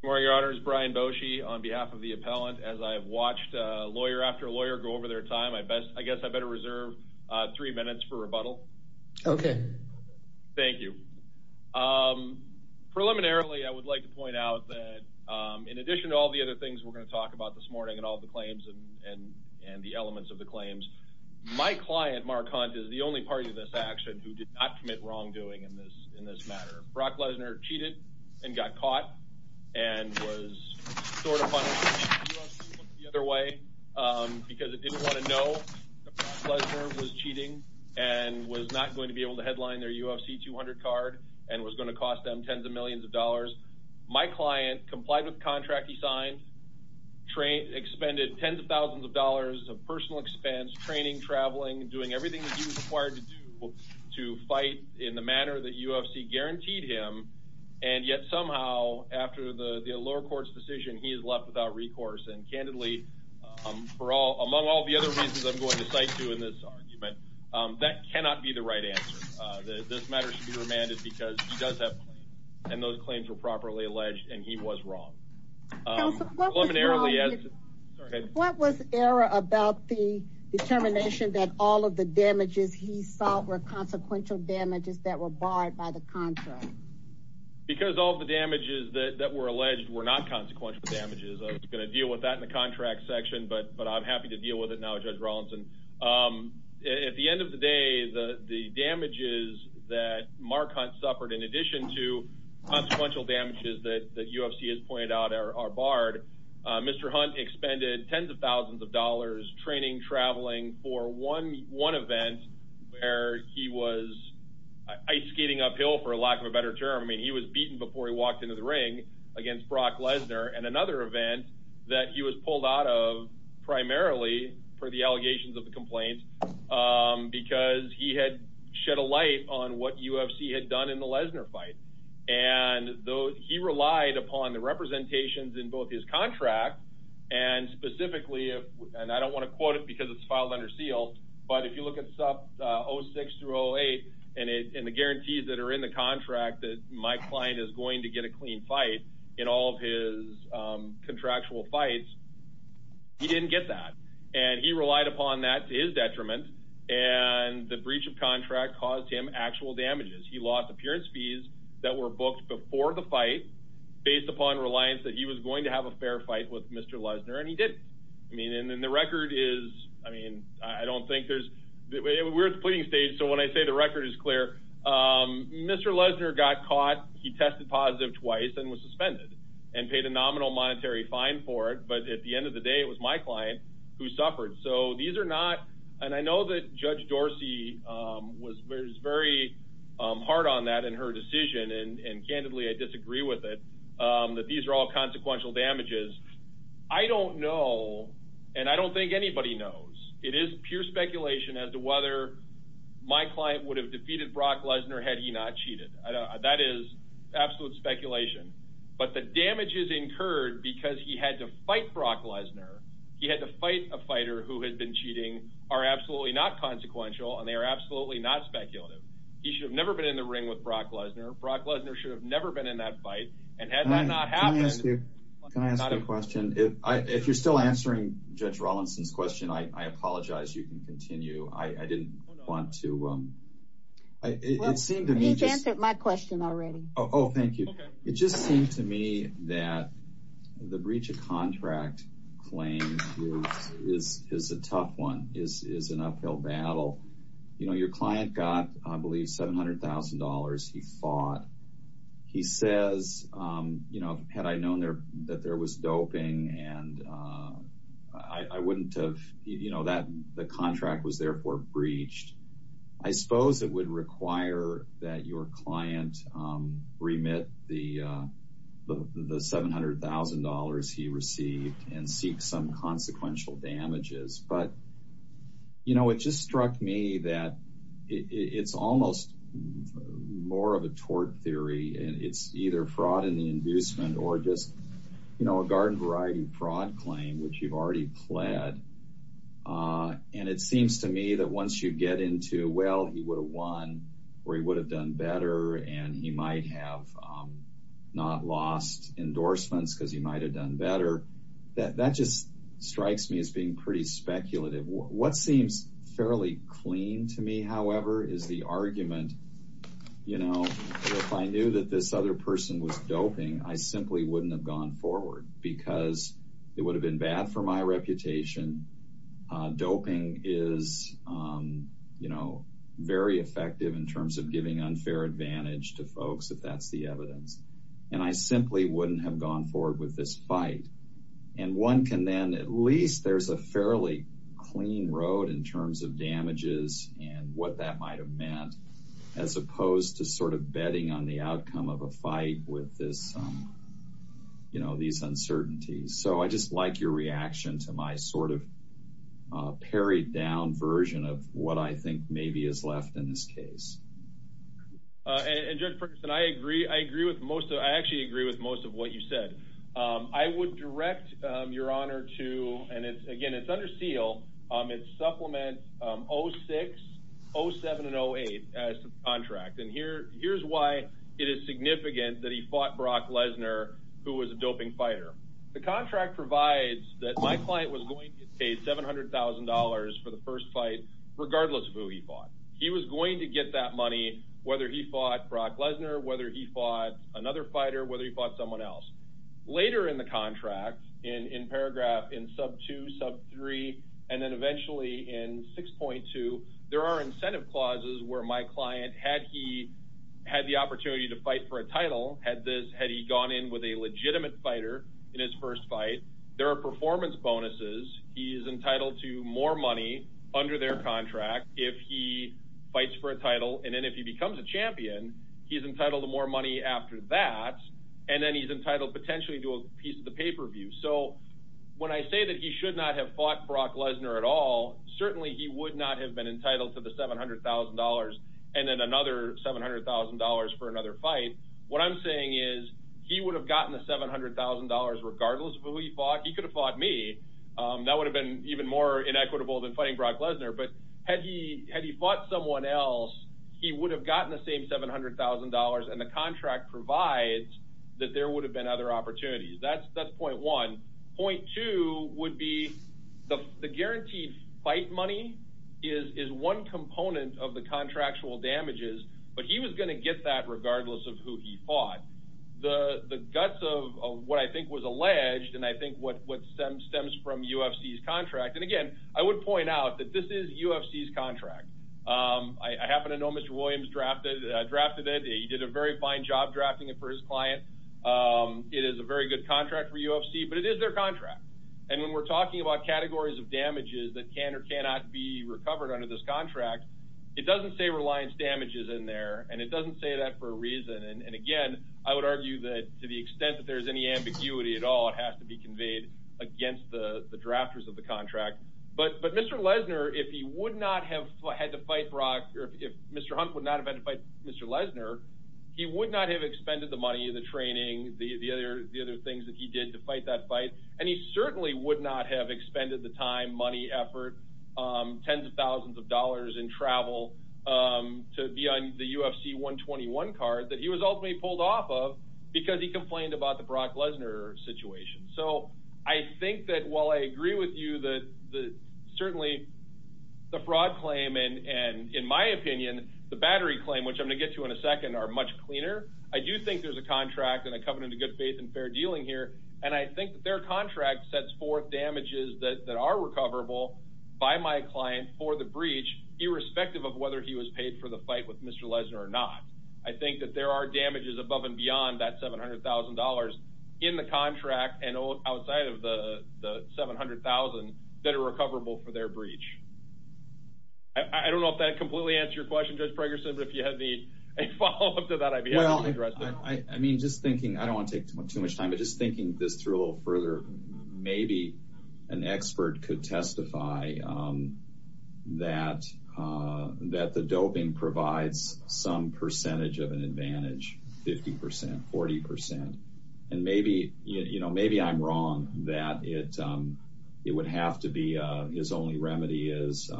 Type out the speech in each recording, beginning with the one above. Good morning, Your Honor. This is Brian Bocci on behalf of the appellant. As I've watched lawyer after lawyer go over their time, I guess I better reserve three minutes for rebuttal. Okay. Thank you. Preliminarily, I would like to point out that in addition to all the other things we're going to talk about this morning and all the claims and the elements of the claims, my client, Mark Hunt, is the only party in this action who did not commit wrongdoing in this matter. Brock Lesnar cheated and got caught and was sort of on the other way because it didn't want to know that Lesnar was cheating and was not going to be able to headline their UFC 200 card and was going to cost them tens of millions of dollars. My client complied with the contract he signed, expended tens of thousands of dollars of personal expense, training, traveling, doing everything that he was required to do to fight in the manner that UFC guaranteed him and yet somehow after the lower court's decision, he is left without recourse and candidly, among all the other reasons I'm going to cite to in this argument, that cannot be the right answer. This matter should be remanded because he does have claims and those claims were properly alleged and he was wrong. What was error about the determination that all of the damages he suffered were consequential damages that were barred by the contract? Because all the damages that were alleged were not consequential damages. I was going to deal with that in the contract section but I'm happy to deal with it now, Judge Rawlinson. At the end of the day, the damages that Mark Hunt suffered in addition to consequential damages that UFC has pointed out are barred, Mr. Hunt expended tens of thousands of dollars training, traveling for one event where he was ice skating uphill for lack of a better term. He was beaten before he walked into the ring against Brock Lesnar and another event that he was pulled out of primarily for the allegations of the complaints because he had shed a light on what UFC had done in the Lesnar fight. He relied upon the representations in both his contract and specifically, and I don't want to quote it because it's filed under seal but if you look at stuff 06 through 08 and the guarantees that are in the contract that my client is going to get a clean fight in all of his contractual fights, he didn't get that and he relied upon that to his detriment and the breach of contract caused him actual damages. He lost appearance fees that were booked before the fight based upon reliance that he was going to have a fair fight with Mr. Lesnar and he didn't. And then the record is, I mean, I don't think there's, we're at the pleading stage so when I say the record is clear, Mr. Lesnar got caught, he tested positive twice and was suspended and paid a nominal monetary fine for it but at the end of the day, it was my client who suffered. So these are not, and I know that Judge Dorsey was very hard on that in her decision and candidly, I disagree with it, that these are all consequential damages. I don't know and I don't think anybody knows. It is pure speculation as to whether my client would have defeated Brock Lesnar had he not cheated. That is absolute speculation but the damages incurred because he had to fight Brock Lesnar, he had to fight a fighter who had been cheating are absolutely not consequential and they are absolutely not speculative. He should have never been in the ring with Brock Lesnar. Brock Lesnar should have never been in that fight and had that not happened. Can I ask you a question? If you're still answering Judge Rawlinson's question, I apologize, you can continue. I didn't want to, it seemed to me... You've answered my question already. Oh, thank you. It just seemed to me that the breach of contract claim is a tough one, is an uphill battle. You know, your client got, I believe, $700,000 he fought. He says, you know, had I known that there was doping and I wouldn't have, you know, that the contract was therefore breached. I suppose it would require that your client remit the $700,000 he received and seek some consequential damages but, you know, it just struck me that it's almost more of a tort theory and it's either fraud in the inducement or just, you know, a garden variety fraud claim which you've already pled and it seems to me that once you get into, well, he would have won or he would have done better and he might have not lost endorsements because he might have done better, that just strikes me as being pretty speculative. What seems fairly clean to me, however, is the argument, you know, if I knew that this other person was doping, I simply wouldn't have gone forward because it would have been bad for my reputation. Doping is, you know, very effective in terms of giving unfair advantage to folks if that's the evidence and I simply wouldn't have gone forward with this fight and one can then at least, there's a fairly clean road in terms of damages and what that might have meant as opposed to sort of betting on the outcome of a fight with this, you know, these uncertainties. So, I just like your reaction to my sort of parried down version of what I think maybe is left in this case. And Judge Ferguson, I agree with most of, I actually agree with most of what you said. I would direct your honor to, and it's again, it's under seal, it's supplement 06, 07 and 08 as to the contract and here's why it is significant that he fought Brock Lesnar who was a doping fighter. The contract provides that my client was going to get paid $700,000 for the first fight regardless of who he fought. He was going to get that money whether he fought Brock Lesnar, whether he fought another fighter, whether he fought someone else. Later in the contract in paragraph, in sub 2, sub 3 and then eventually in 6.2, there are incentive clauses where my client had he had the opportunity to fight for a title, had this, had he gone in with a legitimate fighter in his first fight. There are performance bonuses. He is entitled to more money under their contract if he fights for a title and then if he becomes a champion, he's entitled to more money after that and then he's entitled potentially to a piece of the pay-per-view. So, when I say that he should not have fought Brock Lesnar at all, certainly he would not have been entitled to the $700,000 and then another $700,000 for another fight. What I'm saying is he would have gotten the $700,000 regardless of who he fought. He could have fought me. That would have been even more inequitable than fighting Brock Lesnar, but had he fought someone else, he would have gotten the same $700,000 and the contract provides that there would have been other opportunities. That's point one. Point two would be the guaranteed fight money is one component of the contractual damages, but he was going to get that regardless of who he fought. The guts of what I think was alleged and I think what stems from UFC's contract and again, I would point out that this is UFC's contract. I happen to know Mr. Williams drafted it. He did a very fine job drafting it for his client. It is a very good contract for UFC, but it is their contract and when we're talking about categories of damages that can or cannot be recovered under this contract, it doesn't say damages in there and it doesn't say that for a reason. Again, I would argue that to the extent that there's any ambiguity at all, it has to be conveyed against the drafters of the contract, but Mr. Lesnar, if he would not have had to fight Brock or if Mr. Hunt would not have had to fight Mr. Lesnar, he would not have expended the money, the training, the other things that he did to fight that fight and he certainly would not have expended the time, money, effort, tens of thousands of dollars in travel to be on the UFC 121 card that he was ultimately pulled off of because he complained about the Brock Lesnar situation. So I think that while I agree with you that certainly the fraud claim and in my opinion, the battery claim, which I'm going to get to in a second are much cleaner. I do think there's a contract and I come into good faith and fair dealing here and I think that their contract sets forth damages that are recoverable by my client for the breach irrespective of whether he was paid for the fight with Mr. Lesnar or not. I think that there are damages above and beyond that $700,000 in the contract and outside of the $700,000 that are recoverable for their breach. I don't know if that completely answered your question, Judge Pregerson, but if you have a follow-up to that, I'd be happy to address it. I mean, just thinking, I don't want to take too much time, but just thinking this through a an expert could testify that the doping provides some percentage of an advantage, 50%, 40%. And maybe, you know, maybe I'm wrong that it would have to be his only remedy is,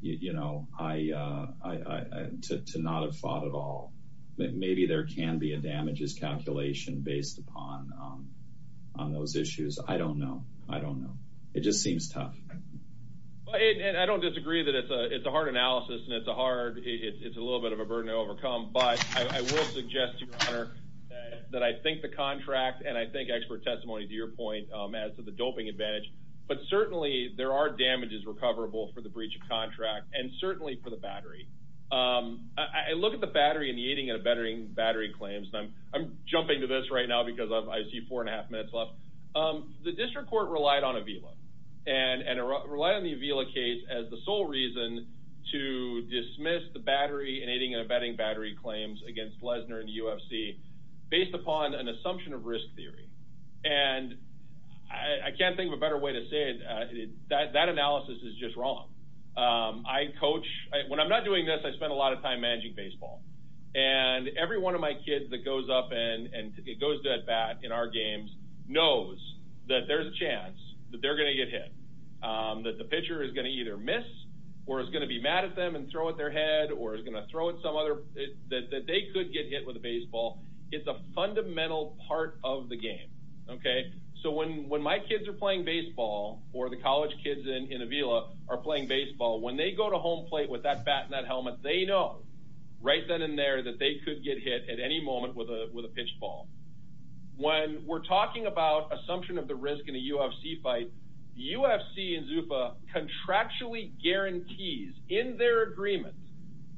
you know, to not have fought at all. Maybe there can be a damages calculation based upon on those issues. I don't know. I don't know. It just seems tough. But I don't disagree that it's a hard analysis and it's a hard, it's a little bit of a burden to overcome, but I will suggest to your honor that I think the contract and I think expert testimony to your point as to the doping advantage, but certainly there are damages recoverable for the breach of contract and certainly for the battery. I look at the battery battery claims and I'm jumping to this right now because I see four and a half minutes left. The district court relied on Avila and relied on the Avila case as the sole reason to dismiss the battery and aiding and abetting battery claims against Lesnar and UFC based upon an assumption of risk theory. And I can't think of a better way to say it. That analysis is just wrong. I coach when I'm not doing this, I spent a lot of time managing baseball and every one of my kids that goes up and it goes dead bad in our games, knows that there's a chance that they're going to get hit, that the pitcher is going to either miss or is going to be mad at them and throw at their head or is going to throw at some other that they could get hit with a baseball. It's a fundamental part of the game. Okay. So when, when my kids are playing baseball or the college kids in Avila are playing baseball, when they go to home plate with that bat and that helmet, they know right then and there that they could get hit at any moment with a, with a pitch ball. When we're talking about assumption of the risk in a UFC fight, UFC and ZUFA contractually guarantees in their agreement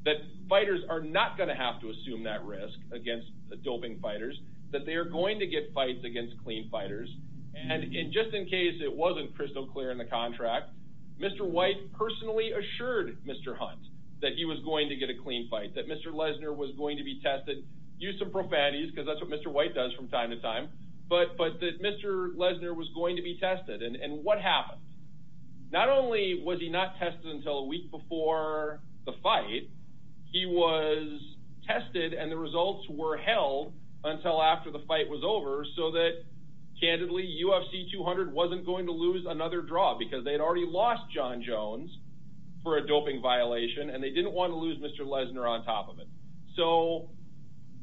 that fighters are not going to have to assume that risk against the doping fighters, that they are going to get fights against clean fighters. And in just in case it wasn't crystal clear in the contract, Mr. White personally assured Mr. Hunt that he was going to get a clean fight, that Mr. Lesnar was going to be tested. Use some profanities because that's what Mr. White does from time to time. But, but that Mr. Lesnar was going to be tested. And what happened? Not only was he not tested until a week before the fight, he was tested and the results were held until after the fight was over. So that candidly UFC 200 wasn't going to lose another draw because they'd already lost John Jones for a doping violation and they didn't want to lose Mr. Lesnar on top of it. So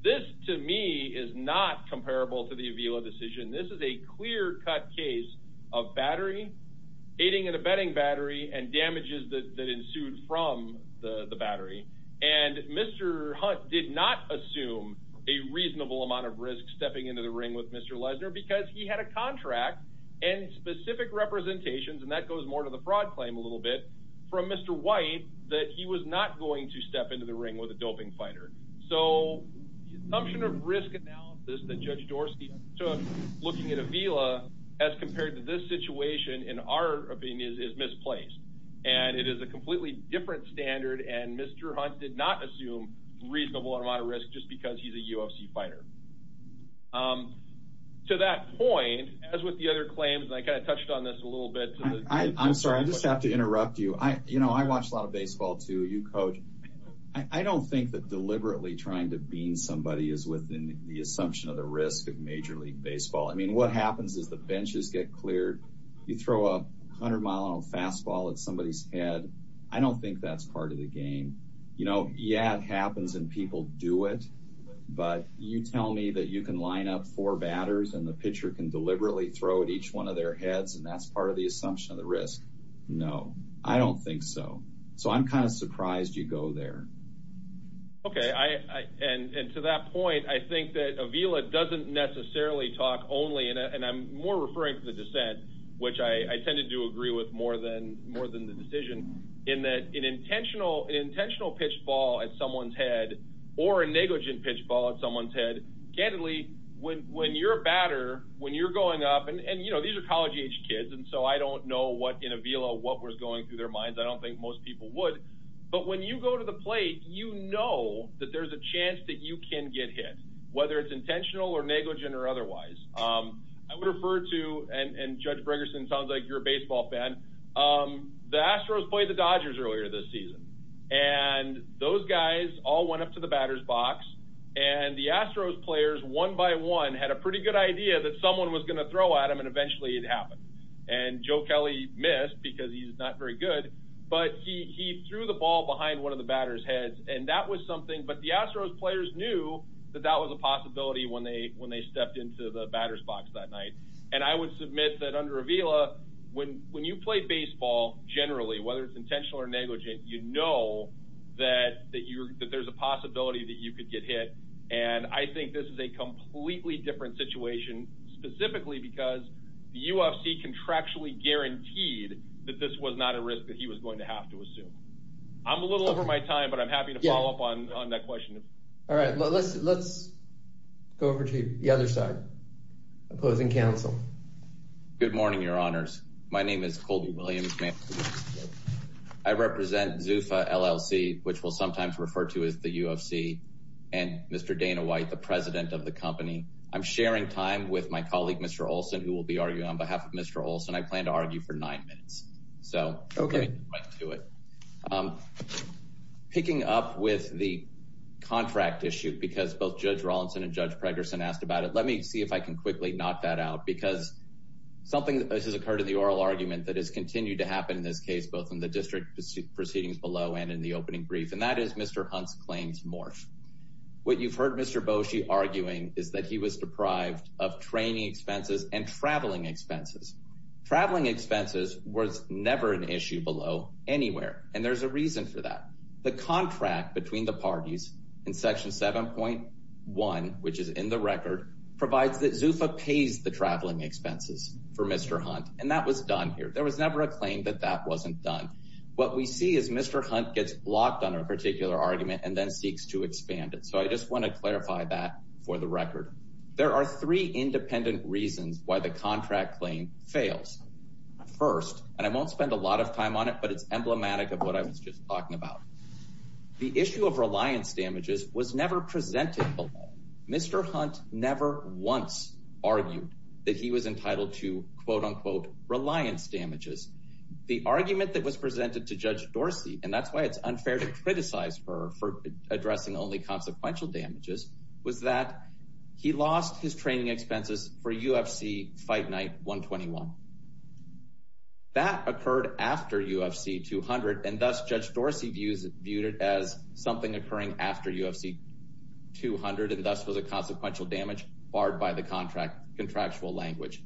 this to me is not comparable to the Avila decision. This is a clear cut case of battery aiding and abetting battery and damages that ensued from the battery. And Mr. Hunt did not assume a reasonable amount of risk stepping into the ring with Mr. Lesnar because he had a contract and specific representations and that goes more to the fraud claim a little bit from Mr. White that he was not going to step into the ring with a doping fighter. So the assumption of risk analysis that Judge Dorsky took looking at Avila as compared to this situation in our opinion is misplaced. And it is a completely different standard and Mr. Hunt did not assume a reasonable amount of risk just because he's a UFC fighter. To that point as with the other claims and I kind of touched on this a little bit. I'm sorry I just have to interrupt you. I you know I watch a lot of baseball too. You coach. I don't think that deliberately trying to bean somebody is within the assumption of the risk of major league baseball. I mean what happens is the benches get cleared. You throw a hundred mile on a fastball at somebody's head. I don't think that's part of the game. You know yeah it happens and people do it. But you tell me that you can line up four batters and the pitcher can deliberately throw at each one of their heads and that's part of the assumption of the risk. No I don't think so. So I'm kind of surprised you go there. Okay I and to that point I think that Avila doesn't necessarily talk only and I'm more referring to the dissent which I tended to agree with more than more than the decision in that an intentional intentional pitch ball at someone's head or a negligent pitch ball at someone's head. Candidly when you're a batter when you're going up and you know these are college age kids and so I don't know what in Avila what was going through their minds. I don't think most people would. But when you go to the plate you know that there's a chance that you can get hit whether it's intentional or negligent or otherwise. I would refer to and Judge Briggerson sounds like you're a baseball fan. The Astros played the Dodgers earlier this season and those guys all went up to the batter's box and the Astros players one by one had a pretty good idea that someone was going to throw at him and eventually it happened. And Joe Kelly missed because he's not very good but he threw the ball behind one of the batter's heads and that was something but the Astros players knew that that was a possibility when they when they stepped into the batter's box that night. And I would submit that under Avila when when you play baseball generally whether it's intentional or negligent you know that that you're that there's a possibility that you could get hit. And I think this is a completely different situation specifically because the UFC contractually guaranteed that this was not a risk that he was going to have to assume. I'm a little over my time but I'm happy to follow up on on that question. All right let's let's go to the other side opposing counsel. Good morning your honors my name is Colby Williams. I represent Zufa LLC which will sometimes refer to as the UFC and Mr. Dana White the president of the company. I'm sharing time with my colleague Mr. Olson who will be arguing on behalf of Mr. Olson. I plan to argue for nine minutes so okay let's do it. Picking up with the let me see if I can quickly knock that out because something that has occurred in the oral argument that has continued to happen in this case both in the district proceedings below and in the opening brief and that is Mr. Hunt's claims morph. What you've heard Mr. Boshi arguing is that he was deprived of training expenses and traveling expenses. Traveling expenses was never an issue below anywhere and there's a reason for that. The contract between the parties in section 7.1 which is in the record provides that Zufa pays the traveling expenses for Mr. Hunt and that was done here. There was never a claim that that wasn't done. What we see is Mr. Hunt gets blocked on a particular argument and then seeks to expand it so I just want to clarify that for the record. There are three independent reasons why the contract claim fails. First and I won't spend a lot of time on it but it's emblematic of what I was just talking about. The issue of reliance damages was never presented below. Mr. Hunt never once argued that he was entitled to quote-unquote reliance damages. The argument that was presented to Judge Dorsey and that's why it's unfair to criticize her for addressing only consequential damages was that he lost his training expenses for UFC Fight Night 121. That occurred after UFC 200 and thus Judge Dorsey viewed it as something occurring after UFC 200 and thus was a consequential damage barred by the contract contractual language.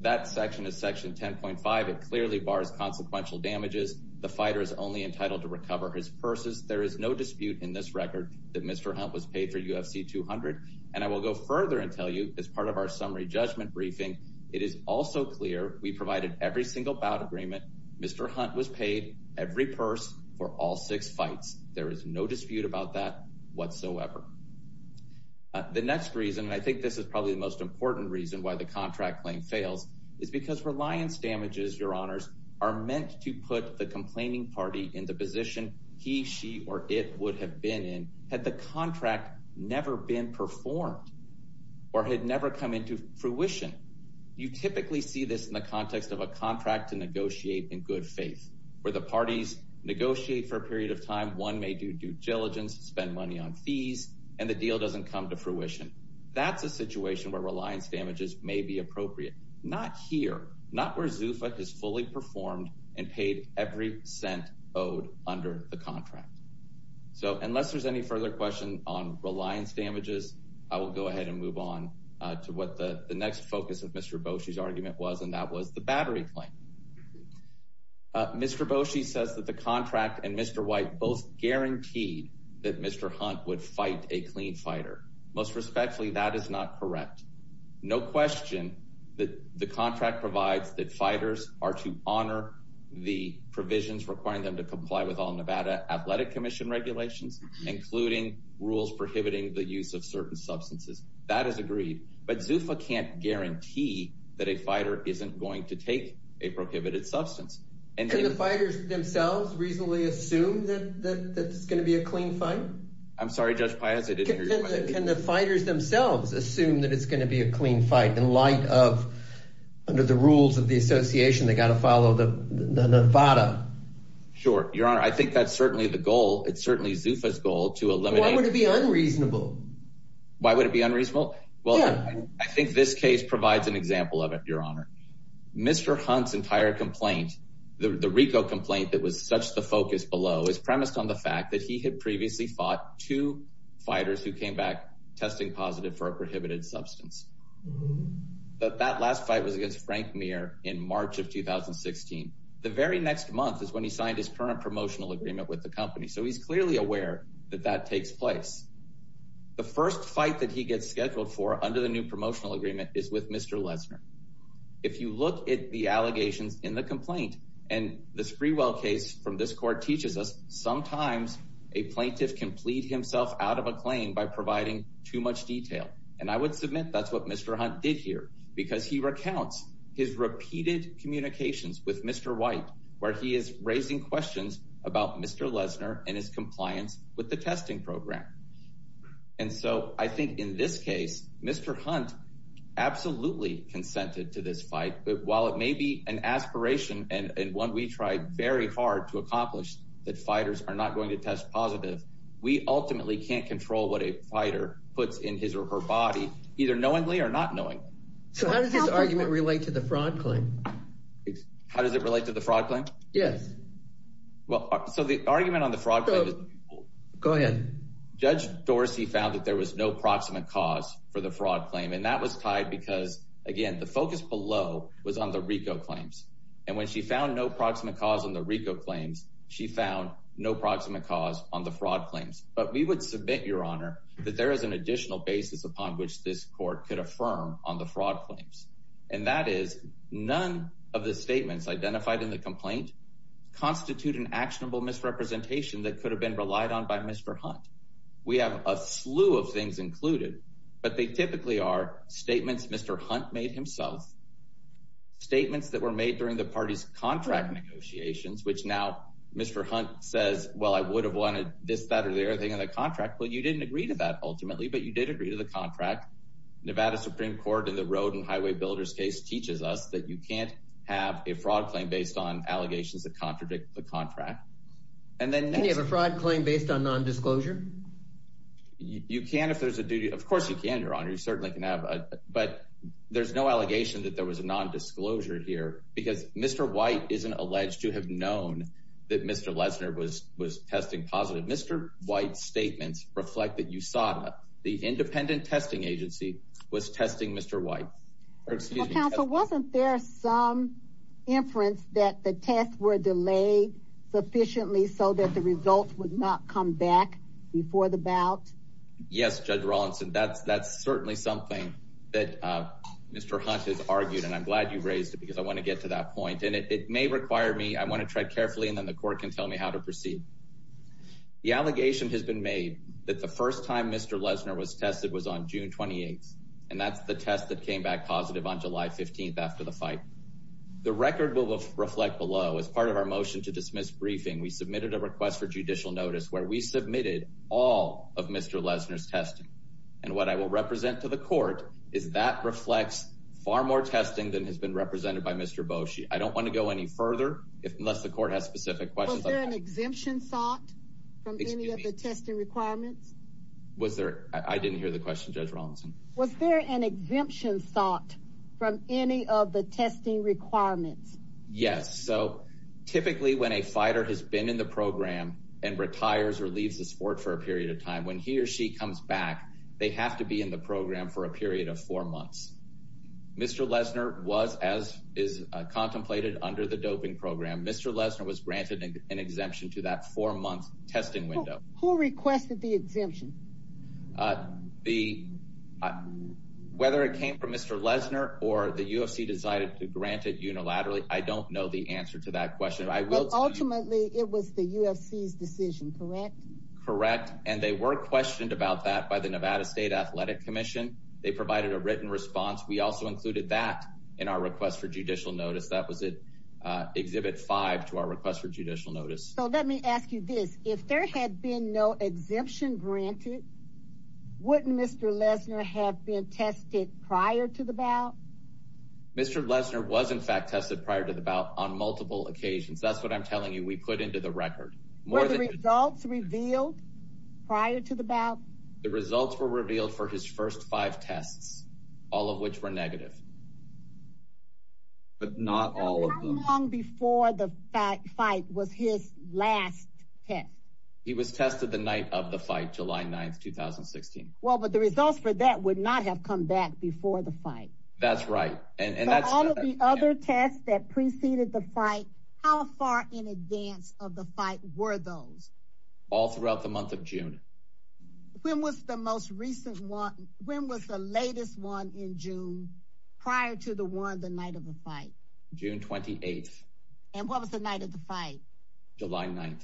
That section is section 10.5. It clearly bars consequential damages. The fighter is only entitled to recover his purses. There is no dispute in this record that Mr. Hunt was paid for UFC 200 and I will go further and tell you as part of our summary judgment briefing it is also clear we provided every single bout agreement. Mr. Hunt was paid every purse for all six fights. There is no dispute about that whatsoever. The next reason and I think this is probably the most important reason why the contract claim fails is because reliance damages your honors are meant to put the complaining party in the position he she or it would have been in had the contract never been performed or had never come into fruition. You typically see this in the parties negotiate for a period of time one may do due diligence spend money on fees and the deal doesn't come to fruition. That's a situation where reliance damages may be appropriate. Not here. Not where Zufa has fully performed and paid every cent owed under the contract. So unless there's any further question on reliance damages I will go ahead and move on to what the the next focus of Mr. Boshi's argument was and that was the battery claim. Mr. Boshi says that the contract and Mr. White both guaranteed that Mr. Hunt would fight a clean fighter. Most respectfully that is not correct. No question that the contract provides that fighters are to honor the provisions requiring them to comply with all Nevada Athletic Commission regulations including rules prohibiting the use of that a fighter isn't going to take a prohibited substance. And can the fighters themselves reasonably assume that that's going to be a clean fight? I'm sorry Judge Piazza. Can the fighters themselves assume that it's going to be a clean fight in light of under the rules of the association they got to follow the Nevada? Sure your honor. I think that's certainly the goal. It's certainly Zufa's goal to eliminate. Why would it be unreasonable? Why would it be unreasonable? Well I think this case provides an example of it your honor. Mr. Hunt's entire complaint the RICO complaint that was such the focus below is premised on the fact that he had previously fought two fighters who came back testing positive for a prohibited substance. But that last fight was against Frank Mir in March of 2016. The very next month is when he signed his current promotional agreement with the company so he's clearly aware that that takes place. The first fight that he gets scheduled for under the new promotional agreement is with Mr. Lesner. If you look at the allegations in the complaint and the Sprewell case from this court teaches us sometimes a plaintiff can plead himself out of a claim by providing too much detail. And I would submit that's what Mr. Hunt did here because he recounts his repeated communications with Mr. White where he is raising questions about Mr. Lesner and his compliance with the testing program. And so I think in this case Mr. Hunt absolutely consented to this fight but while it may be an aspiration and one we tried very hard to accomplish that fighters are not going to test positive we ultimately can't control what a fighter puts in his or her body either knowingly or not knowing. So how does this argument relate to the fraud claim? How does it relate to the fraud claim? Yes. Well so the argument on the fraud go ahead. Judge Dorsey found that there was no proximate cause for the fraud claim and that was tied because again the focus below was on the RICO claims and when she found no proximate cause on the RICO claims she found no proximate cause on the fraud claims. But we would submit your honor that there is an additional basis upon which this court could affirm on the fraud claims and that is none of the statements identified in the complaint constitute an actionable misrepresentation that could have been relied on by Mr. Hunt. We have a slew of things included but they typically are statements Mr. Hunt made himself, statements that were made during the party's contract negotiations which now Mr. Hunt says well I would have wanted this that or the other thing in the contract. Well you didn't agree to that ultimately but you did agree to the contract. Nevada Supreme Court in the road and highway builder's case teaches us that you can't have a fraud claim based on allegations that contradict the contract. Can you have a fraud claim based on non-disclosure? You can if there's a duty of course you can your honor you certainly can have a but there's no allegation that there was a non-disclosure here because Mr. White isn't alleged to have known that Mr. Lesner was was testing positive. Mr. White's statements reflect that USADA the independent testing agency was testing Mr. White. Counsel wasn't there some inference that the tests were delayed sufficiently so that the results would not come back before the bout? Yes Judge Rawlinson that's that's certainly something that uh Mr. Hunt has argued and I'm glad you raised it because I want to get to that point and it may require me I want to tread carefully and then the court can tell me how to proceed. The allegation has been made that the first time Mr. Lesner was tested was on June 28th and that's the test that came back positive on July 15th after the fight. The record will reflect below as part of our motion to dismiss briefing we submitted a request for judicial notice where we submitted all of Mr. Lesner's testing and what I will represent to the court is that reflects far more testing than has been represented by Mr. Boshi. I don't want to go any further if unless the court has specific questions. Was there an exemption sought from any of the Was there an exemption sought from any of the testing requirements? Yes so typically when a fighter has been in the program and retires or leaves the sport for a period of time when he or she comes back they have to be in the program for a period of four months. Mr. Lesner was as is contemplated under the doping program Mr. Lesner was granted an exemption to that four-month testing window. Who requested the exemption? Whether it came from Mr. Lesner or the UFC decided to grant it unilaterally I don't know the answer to that question. But ultimately it was the UFC's decision correct? Correct and they were questioned about that by the Nevada State Athletic Commission. They provided a written response we also included that in our request for judicial notice. So let me ask you this if there had been no exemption granted wouldn't Mr. Lesner have been tested prior to the bout? Mr. Lesner was in fact tested prior to the bout on multiple occasions that's what I'm telling you we put into the record. Were the results revealed prior to the bout? The results were revealed for his first five tests all of which were negative. But not all of them. How long before the fact fight was his last test? He was tested the night of the fight July 9th 2016. Well but the results for that would not have come back before the fight. That's right and that's all of the other tests that preceded the fight how far in advance of the fight were those? All throughout the month of June. When was the most recent one when was the latest one in June? Prior to the one the night of the fight. June 28th. And what was the night of the fight? July 9th.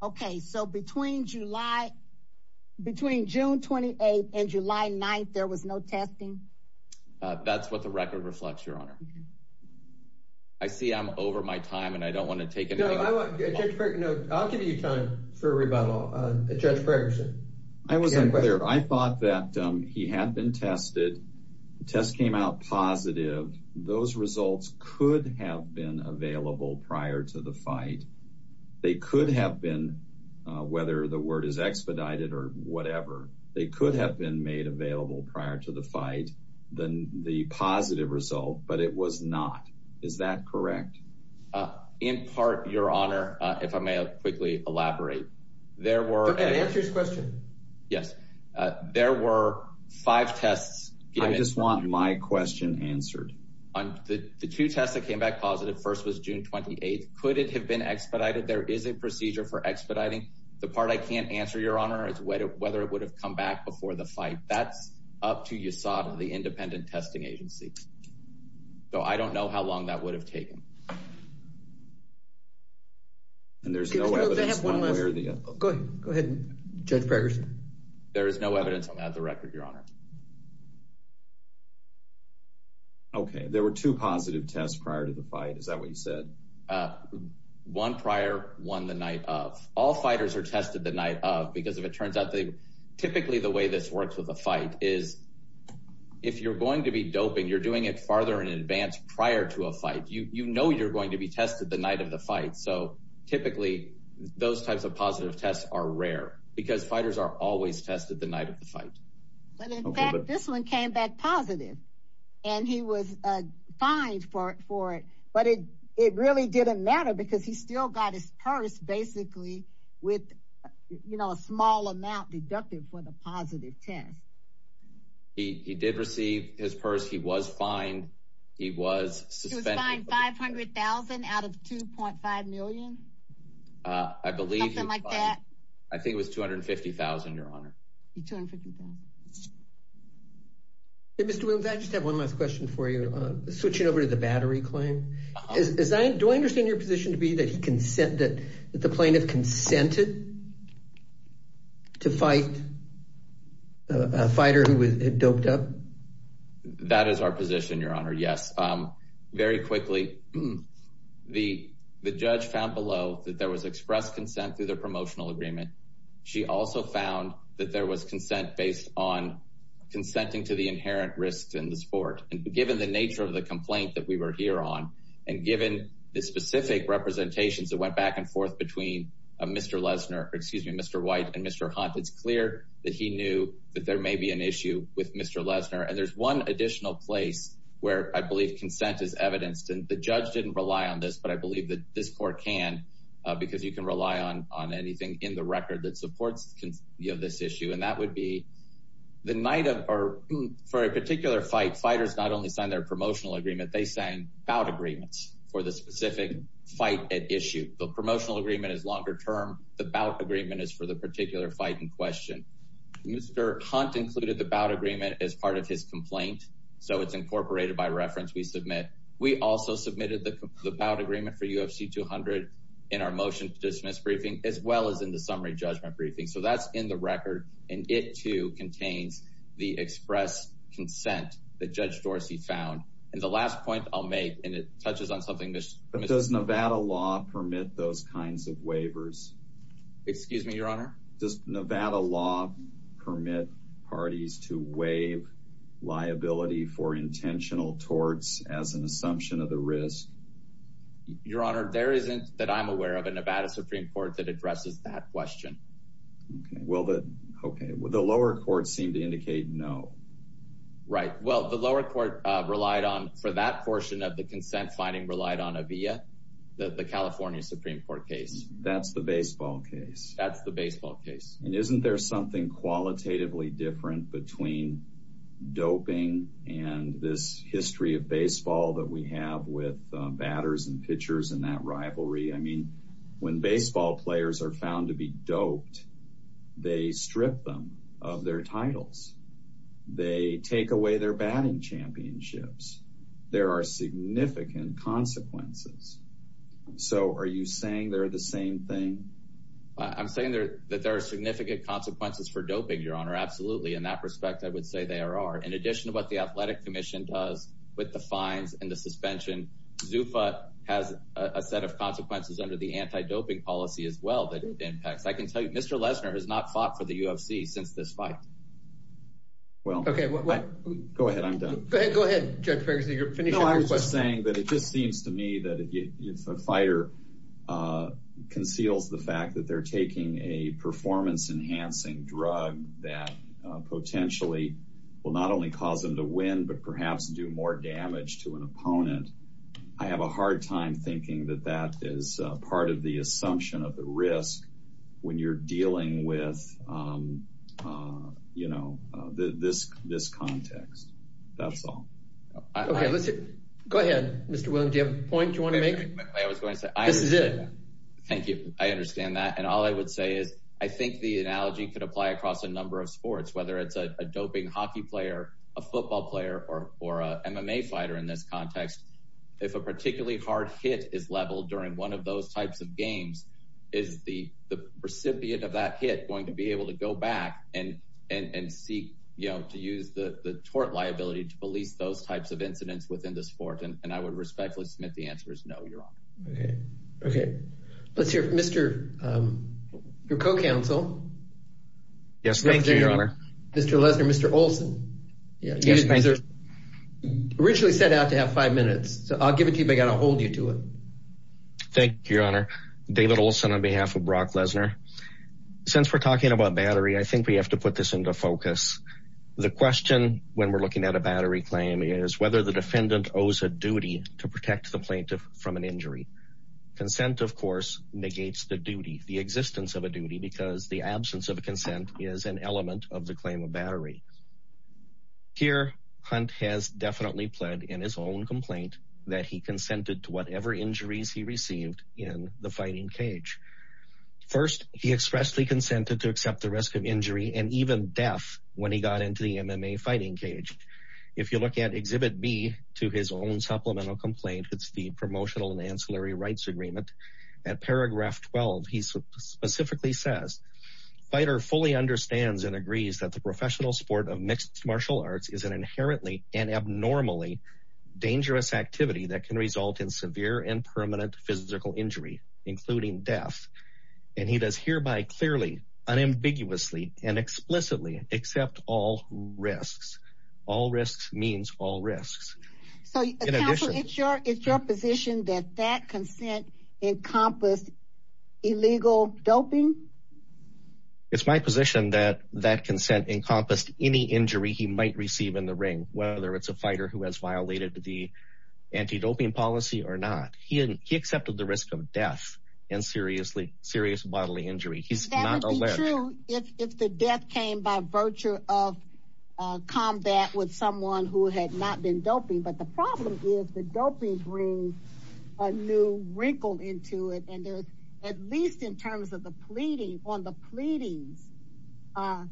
Okay so between July between June 28th and July 9th there was no testing? That's what the record reflects your honor. I see I'm over my time and I don't want to take it. I'll give you time for positive those results could have been available prior to the fight they could have been whether the word is expedited or whatever they could have been made available prior to the fight then the positive result but it was not. Is that correct? In part your honor if I may quickly elaborate there were answers question yes there were five tests I just want my question answered on the two tests that came back positive first was June 28th could it have been expedited there is a procedure for expediting the part I can't answer your honor is whether it would have come back before the fight that's up to USADA the independent testing agency so I don't know how long that would have taken and there's no evidence go ahead go ahead judge breggers there is no evidence on that the record your honor okay there were two positive tests prior to the fight is that what you said one prior one the night of all fighters are tested the night of because if it turns out they typically the way this works with a fight is if you're going to be doping you're doing it farther in advance prior to a fight you you know you're going to be tested the night of the fight so typically those types of positive tests are rare because fighters are always tested the night of the fight but in fact this one came back positive and he was uh fined for it for it but it it really didn't matter because he still got his purse basically with you know a small amount deducted for the positive test he he did receive his purse he was fined he was suspended 500,000 out of 2.5 million uh I believe something like that I think it was 250,000 your honor 250,000 hey Mr. Williams I just have one last question for you uh switching over to the battery claim is that do I understand your position to be that he consent that the plaintiff consented to fight a fighter who was doped up that is our position your honor yes um very quickly the the judge found below that there was expressed consent through their promotional agreement she also found that there was consent based on consenting to the inherent risks in the sport and given the nature of the complaint that we were here on and given the specific representations that went back and forth between Mr. Lesnar excuse me Mr. White and Mr. Hunt it's clear that he knew that there may be an issue with Mr. Lesnar and there's one additional place where I believe consent is evidenced and the judge didn't rely on this but I believe that this court can because you can rely on on anything in the record that supports you know this issue and that would be the night of or for a particular fight fighters not only sign their promotional agreement they sang bout agreements for the specific fight at issue the promotional agreement is longer term the bout agreement is for the particular fight in question Mr. Hunt included the bout agreement as part of his complaint so it's incorporated by reference we submit we also submitted the bout agreement for UFC 200 in our motion to dismiss briefing as well as in the summary judgment briefing so that's in the record and it too contains the expressed consent that last point I'll make and it touches on something this but does Nevada law permit those kinds of waivers excuse me your honor does Nevada law permit parties to waive liability for intentional torts as an assumption of the risk your honor there isn't that I'm aware of a Nevada supreme court that addresses that question okay well the okay well the lower court seemed to indicate no right well the lower court relied on for that portion of the consent finding relied on a via the California supreme court case that's the baseball case that's the baseball case and isn't there something qualitatively different between doping and this history of baseball that we have with batters and pitchers and that rivalry I mean when baseball players are found to be doped they strip them of their titles they take away their batting championships there are significant consequences so are you saying they're the same thing I'm saying there that there are significant consequences for doping your honor absolutely in that respect I would say there are in addition to what the athletic commission does with the fines and the suspension Zufa has a set of consequences under the anti-doping policy as well that impacts I can tell you Mr. Lesnar has not fought for the UFC since this fight well okay go ahead I'm done go ahead judge Ferguson you're finished I was just saying that it just seems to me that if a fighter conceals the fact that they're taking a performance enhancing drug that potentially will not only cause them to win but perhaps do more damage to an opponent I have a hard time thinking that that is part of the assumption of the risk when you're dealing with you know this this context that's all okay let's go ahead Mr. William do you have a point you want to make I was going to say this is it thank you I understand that and all I would say is I think the analogy could apply across a number of sports whether it's a doping hockey player a football player or or a MMA fighter in this context if a particularly hard hit is leveled during one of those types of games is the the recipient of that hit going to be able to go back and and and seek you know to use the the tort liability to police those types of incidents within the sport and I would respectfully submit the answer is no your honor okay okay let's hear from Mr. your co-counsel yes thank you your honor Mr. Lesnar Mr. Olson yes thank you originally set out to have five minutes so I'll give it to you but I got to hold you to it thank you your honor David Olson on behalf of Brock Lesnar since we're talking about battery I think we have to put this into focus the question when we're looking at a battery claim is whether the defendant owes a duty to protect the plaintiff from an injury consent of course negates the duty the existence of a duty because the absence of a consent is an element of the battery here hunt has definitely pled in his own complaint that he consented to whatever injuries he received in the fighting cage first he expressly consented to accept the risk of injury and even death when he got into the MMA fighting cage if you look at exhibit b to his own supplemental complaint it's the promotional and ancillary rights agreement at paragraph 12 he specifically says fighter fully understands and agrees that the professional sport of mixed martial arts is an inherently and abnormally dangerous activity that can result in severe and permanent physical injury including death and he does hereby clearly unambiguously and explicitly accept all risks all risks means all risks so in addition it's your it's your position that that consent encompassed illegal doping it's my position that that consent encompassed any injury he might receive in the ring whether it's a fighter who has violated the anti-doping policy or not he he accepted the risk of death and seriously serious bodily injury he's not true if if the death came by virtue of combat with someone who had not been doping but the problem is the doping brings a new wrinkle into it and there's at least in terms of the pleading on the pleadings uh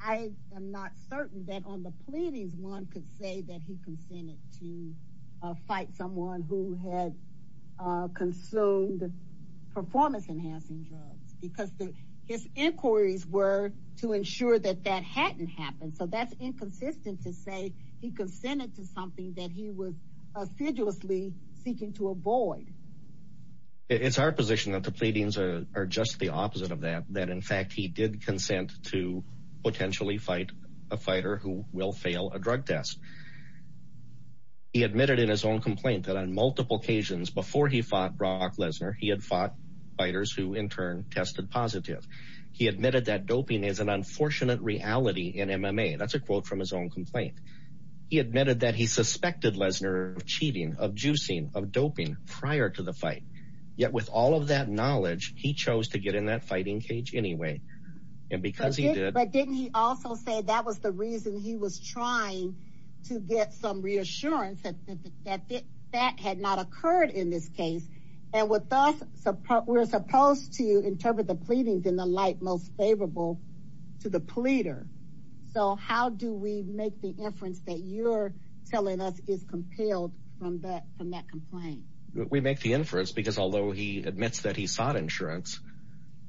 i am not certain that on the pleadings one could say that he consented to uh fight someone who had uh consumed performance enhancing drugs because his inquiries were to ensure that that hadn't happened so that's inconsistent to say he consented to something that he was assiduously seeking to avoid it's our position that the pleadings are just the opposite of that that in fact he did consent to potentially fight a fighter who will fail a drug test he admitted in his own complaint that on multiple occasions before he fought Brock Lesnar he had fought fighters who in turn tested positive he admitted that doping is an unfortunate reality in MMA that's a quote from his own complaint he admitted that he suspected Lesnar of cheating of juicing of doping prior to the fight yet with all of that knowledge he chose to get in that fighting cage anyway and because he did but didn't he also say that was the reason he was trying to get some reassurance that that that had not occurred in this case and with us support we're supposed to interpret the pleadings in the light most favorable to the pleader so how do we make the inference that you're telling us is compelled from that from that complaint we make the inference because although he admits that he sought insurance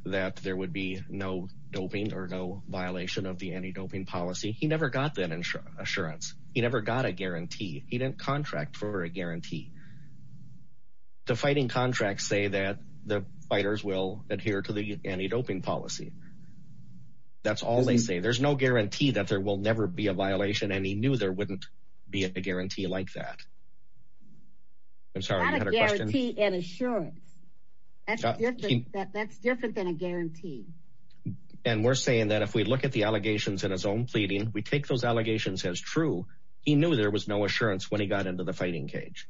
that there would be no doping or no violation of the anti-doping policy he never got that insurance he never got a guarantee he didn't contract for a guarantee the fighting contracts say that the fighters will adhere to the anti-doping policy that's all they say there's no guarantee that there will never be a violation and he knew there wouldn't be a guarantee like that i'm sorry i had a guarantee and assurance that's different than a guarantee and we're saying that if we look at the allegations in his own pleading we take those allegations as true he knew there was no assurance when he got into the fighting cage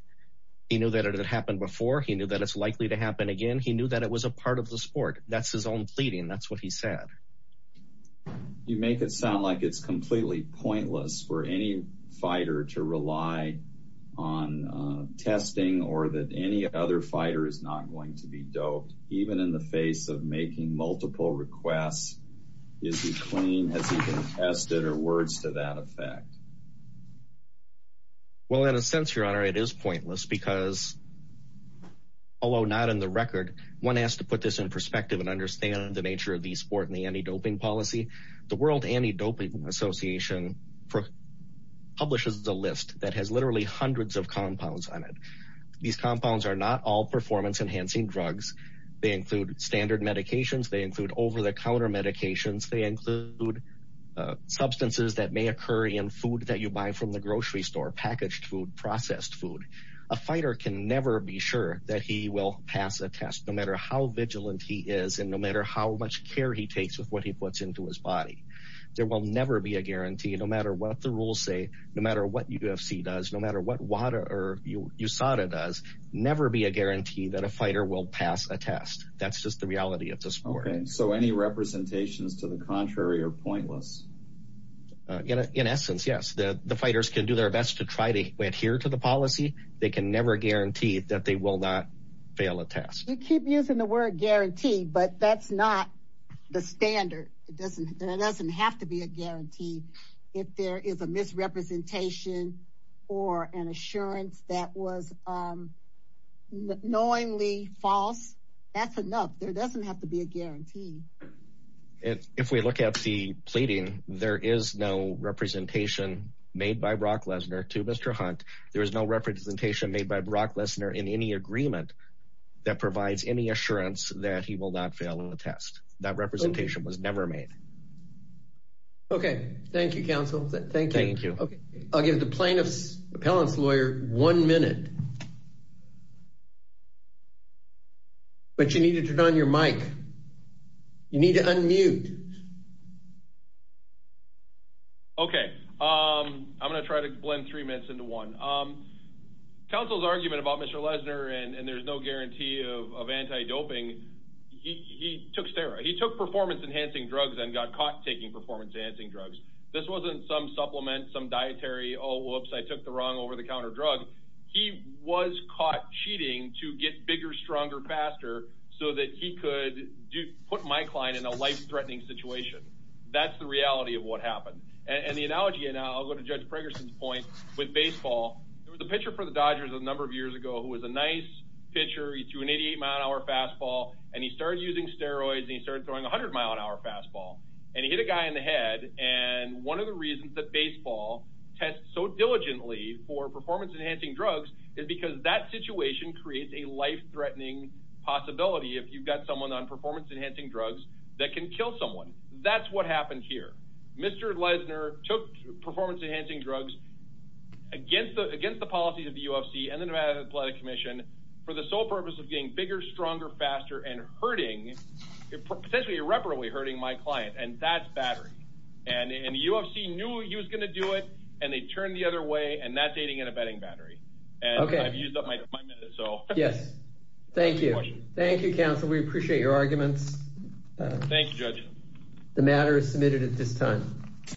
he knew that it had happened before he knew that it's likely to happen again he pleading that's what he said you make it sound like it's completely pointless for any fighter to rely on testing or that any other fighter is not going to be doped even in the face of making multiple requests is he clean has he been tested or words to that effect well in a sense your honor it is pointless because although not in the record one has to put this in perspective and the nature of the sport and the anti-doping policy the world anti-doping association publishes a list that has literally hundreds of compounds on it these compounds are not all performance enhancing drugs they include standard medications they include over-the-counter medications they include substances that may occur in food that you buy from the grocery store packaged food processed food a fighter can never be sure that he will pass a test no matter how much care he takes with what he puts into his body there will never be a guarantee no matter what the rules say no matter what ufc does no matter what water or usada does never be a guarantee that a fighter will pass a test that's just the reality of the sport so any representations to the contrary are pointless in essence yes the the fighters can do their best to try to adhere to the policy they can never guarantee that they will not fail a test you keep using the word guarantee but that's not the standard it doesn't there doesn't have to be a guarantee if there is a misrepresentation or an assurance that was um knowingly false that's enough there doesn't have to be a guarantee if if we look at the pleading there is no representation made by brock lesnar to mr hunt there is no representation made by brock lesnar in any agreement that provides any assurance that he will not fail in the test that representation was never made okay thank you counsel thank you thank you okay i'll give the plaintiff's appellant's lawyer one minute but you need to turn on your mic you need to unmute okay um i'm gonna try to blend three minutes into one um council's argument about mr lesnar and and there's no guarantee of anti-doping he he took stera he took performance enhancing drugs and got caught taking performance enhancing drugs this wasn't some supplement some dietary oh whoops i took the wrong over-the-counter drug he was caught cheating to get bigger stronger faster so that he could do put my client in a life-threatening situation that's the reality of what happened and the analogy and i'll go to judge preggerson's point with baseball there was a nice pitcher he threw an 88 mile an hour fastball and he started using steroids and he started throwing 100 mile an hour fastball and he hit a guy in the head and one of the reasons that baseball tests so diligently for performance enhancing drugs is because that situation creates a life-threatening possibility if you've got someone on performance enhancing drugs that can kill someone that's what happened here mr lesnar took performance enhancing drugs against the against the policies of the ufc and the nevada athletic commission for the sole purpose of getting bigger stronger faster and hurting potentially irreparably hurting my client and that's battery and in the ufc knew he was going to do it and they turned the other way and that's aiding and abetting battery and i've used up my minute so yes thank you thank you counsel we appreciate your arguments thank you judge the matter is submitted at this time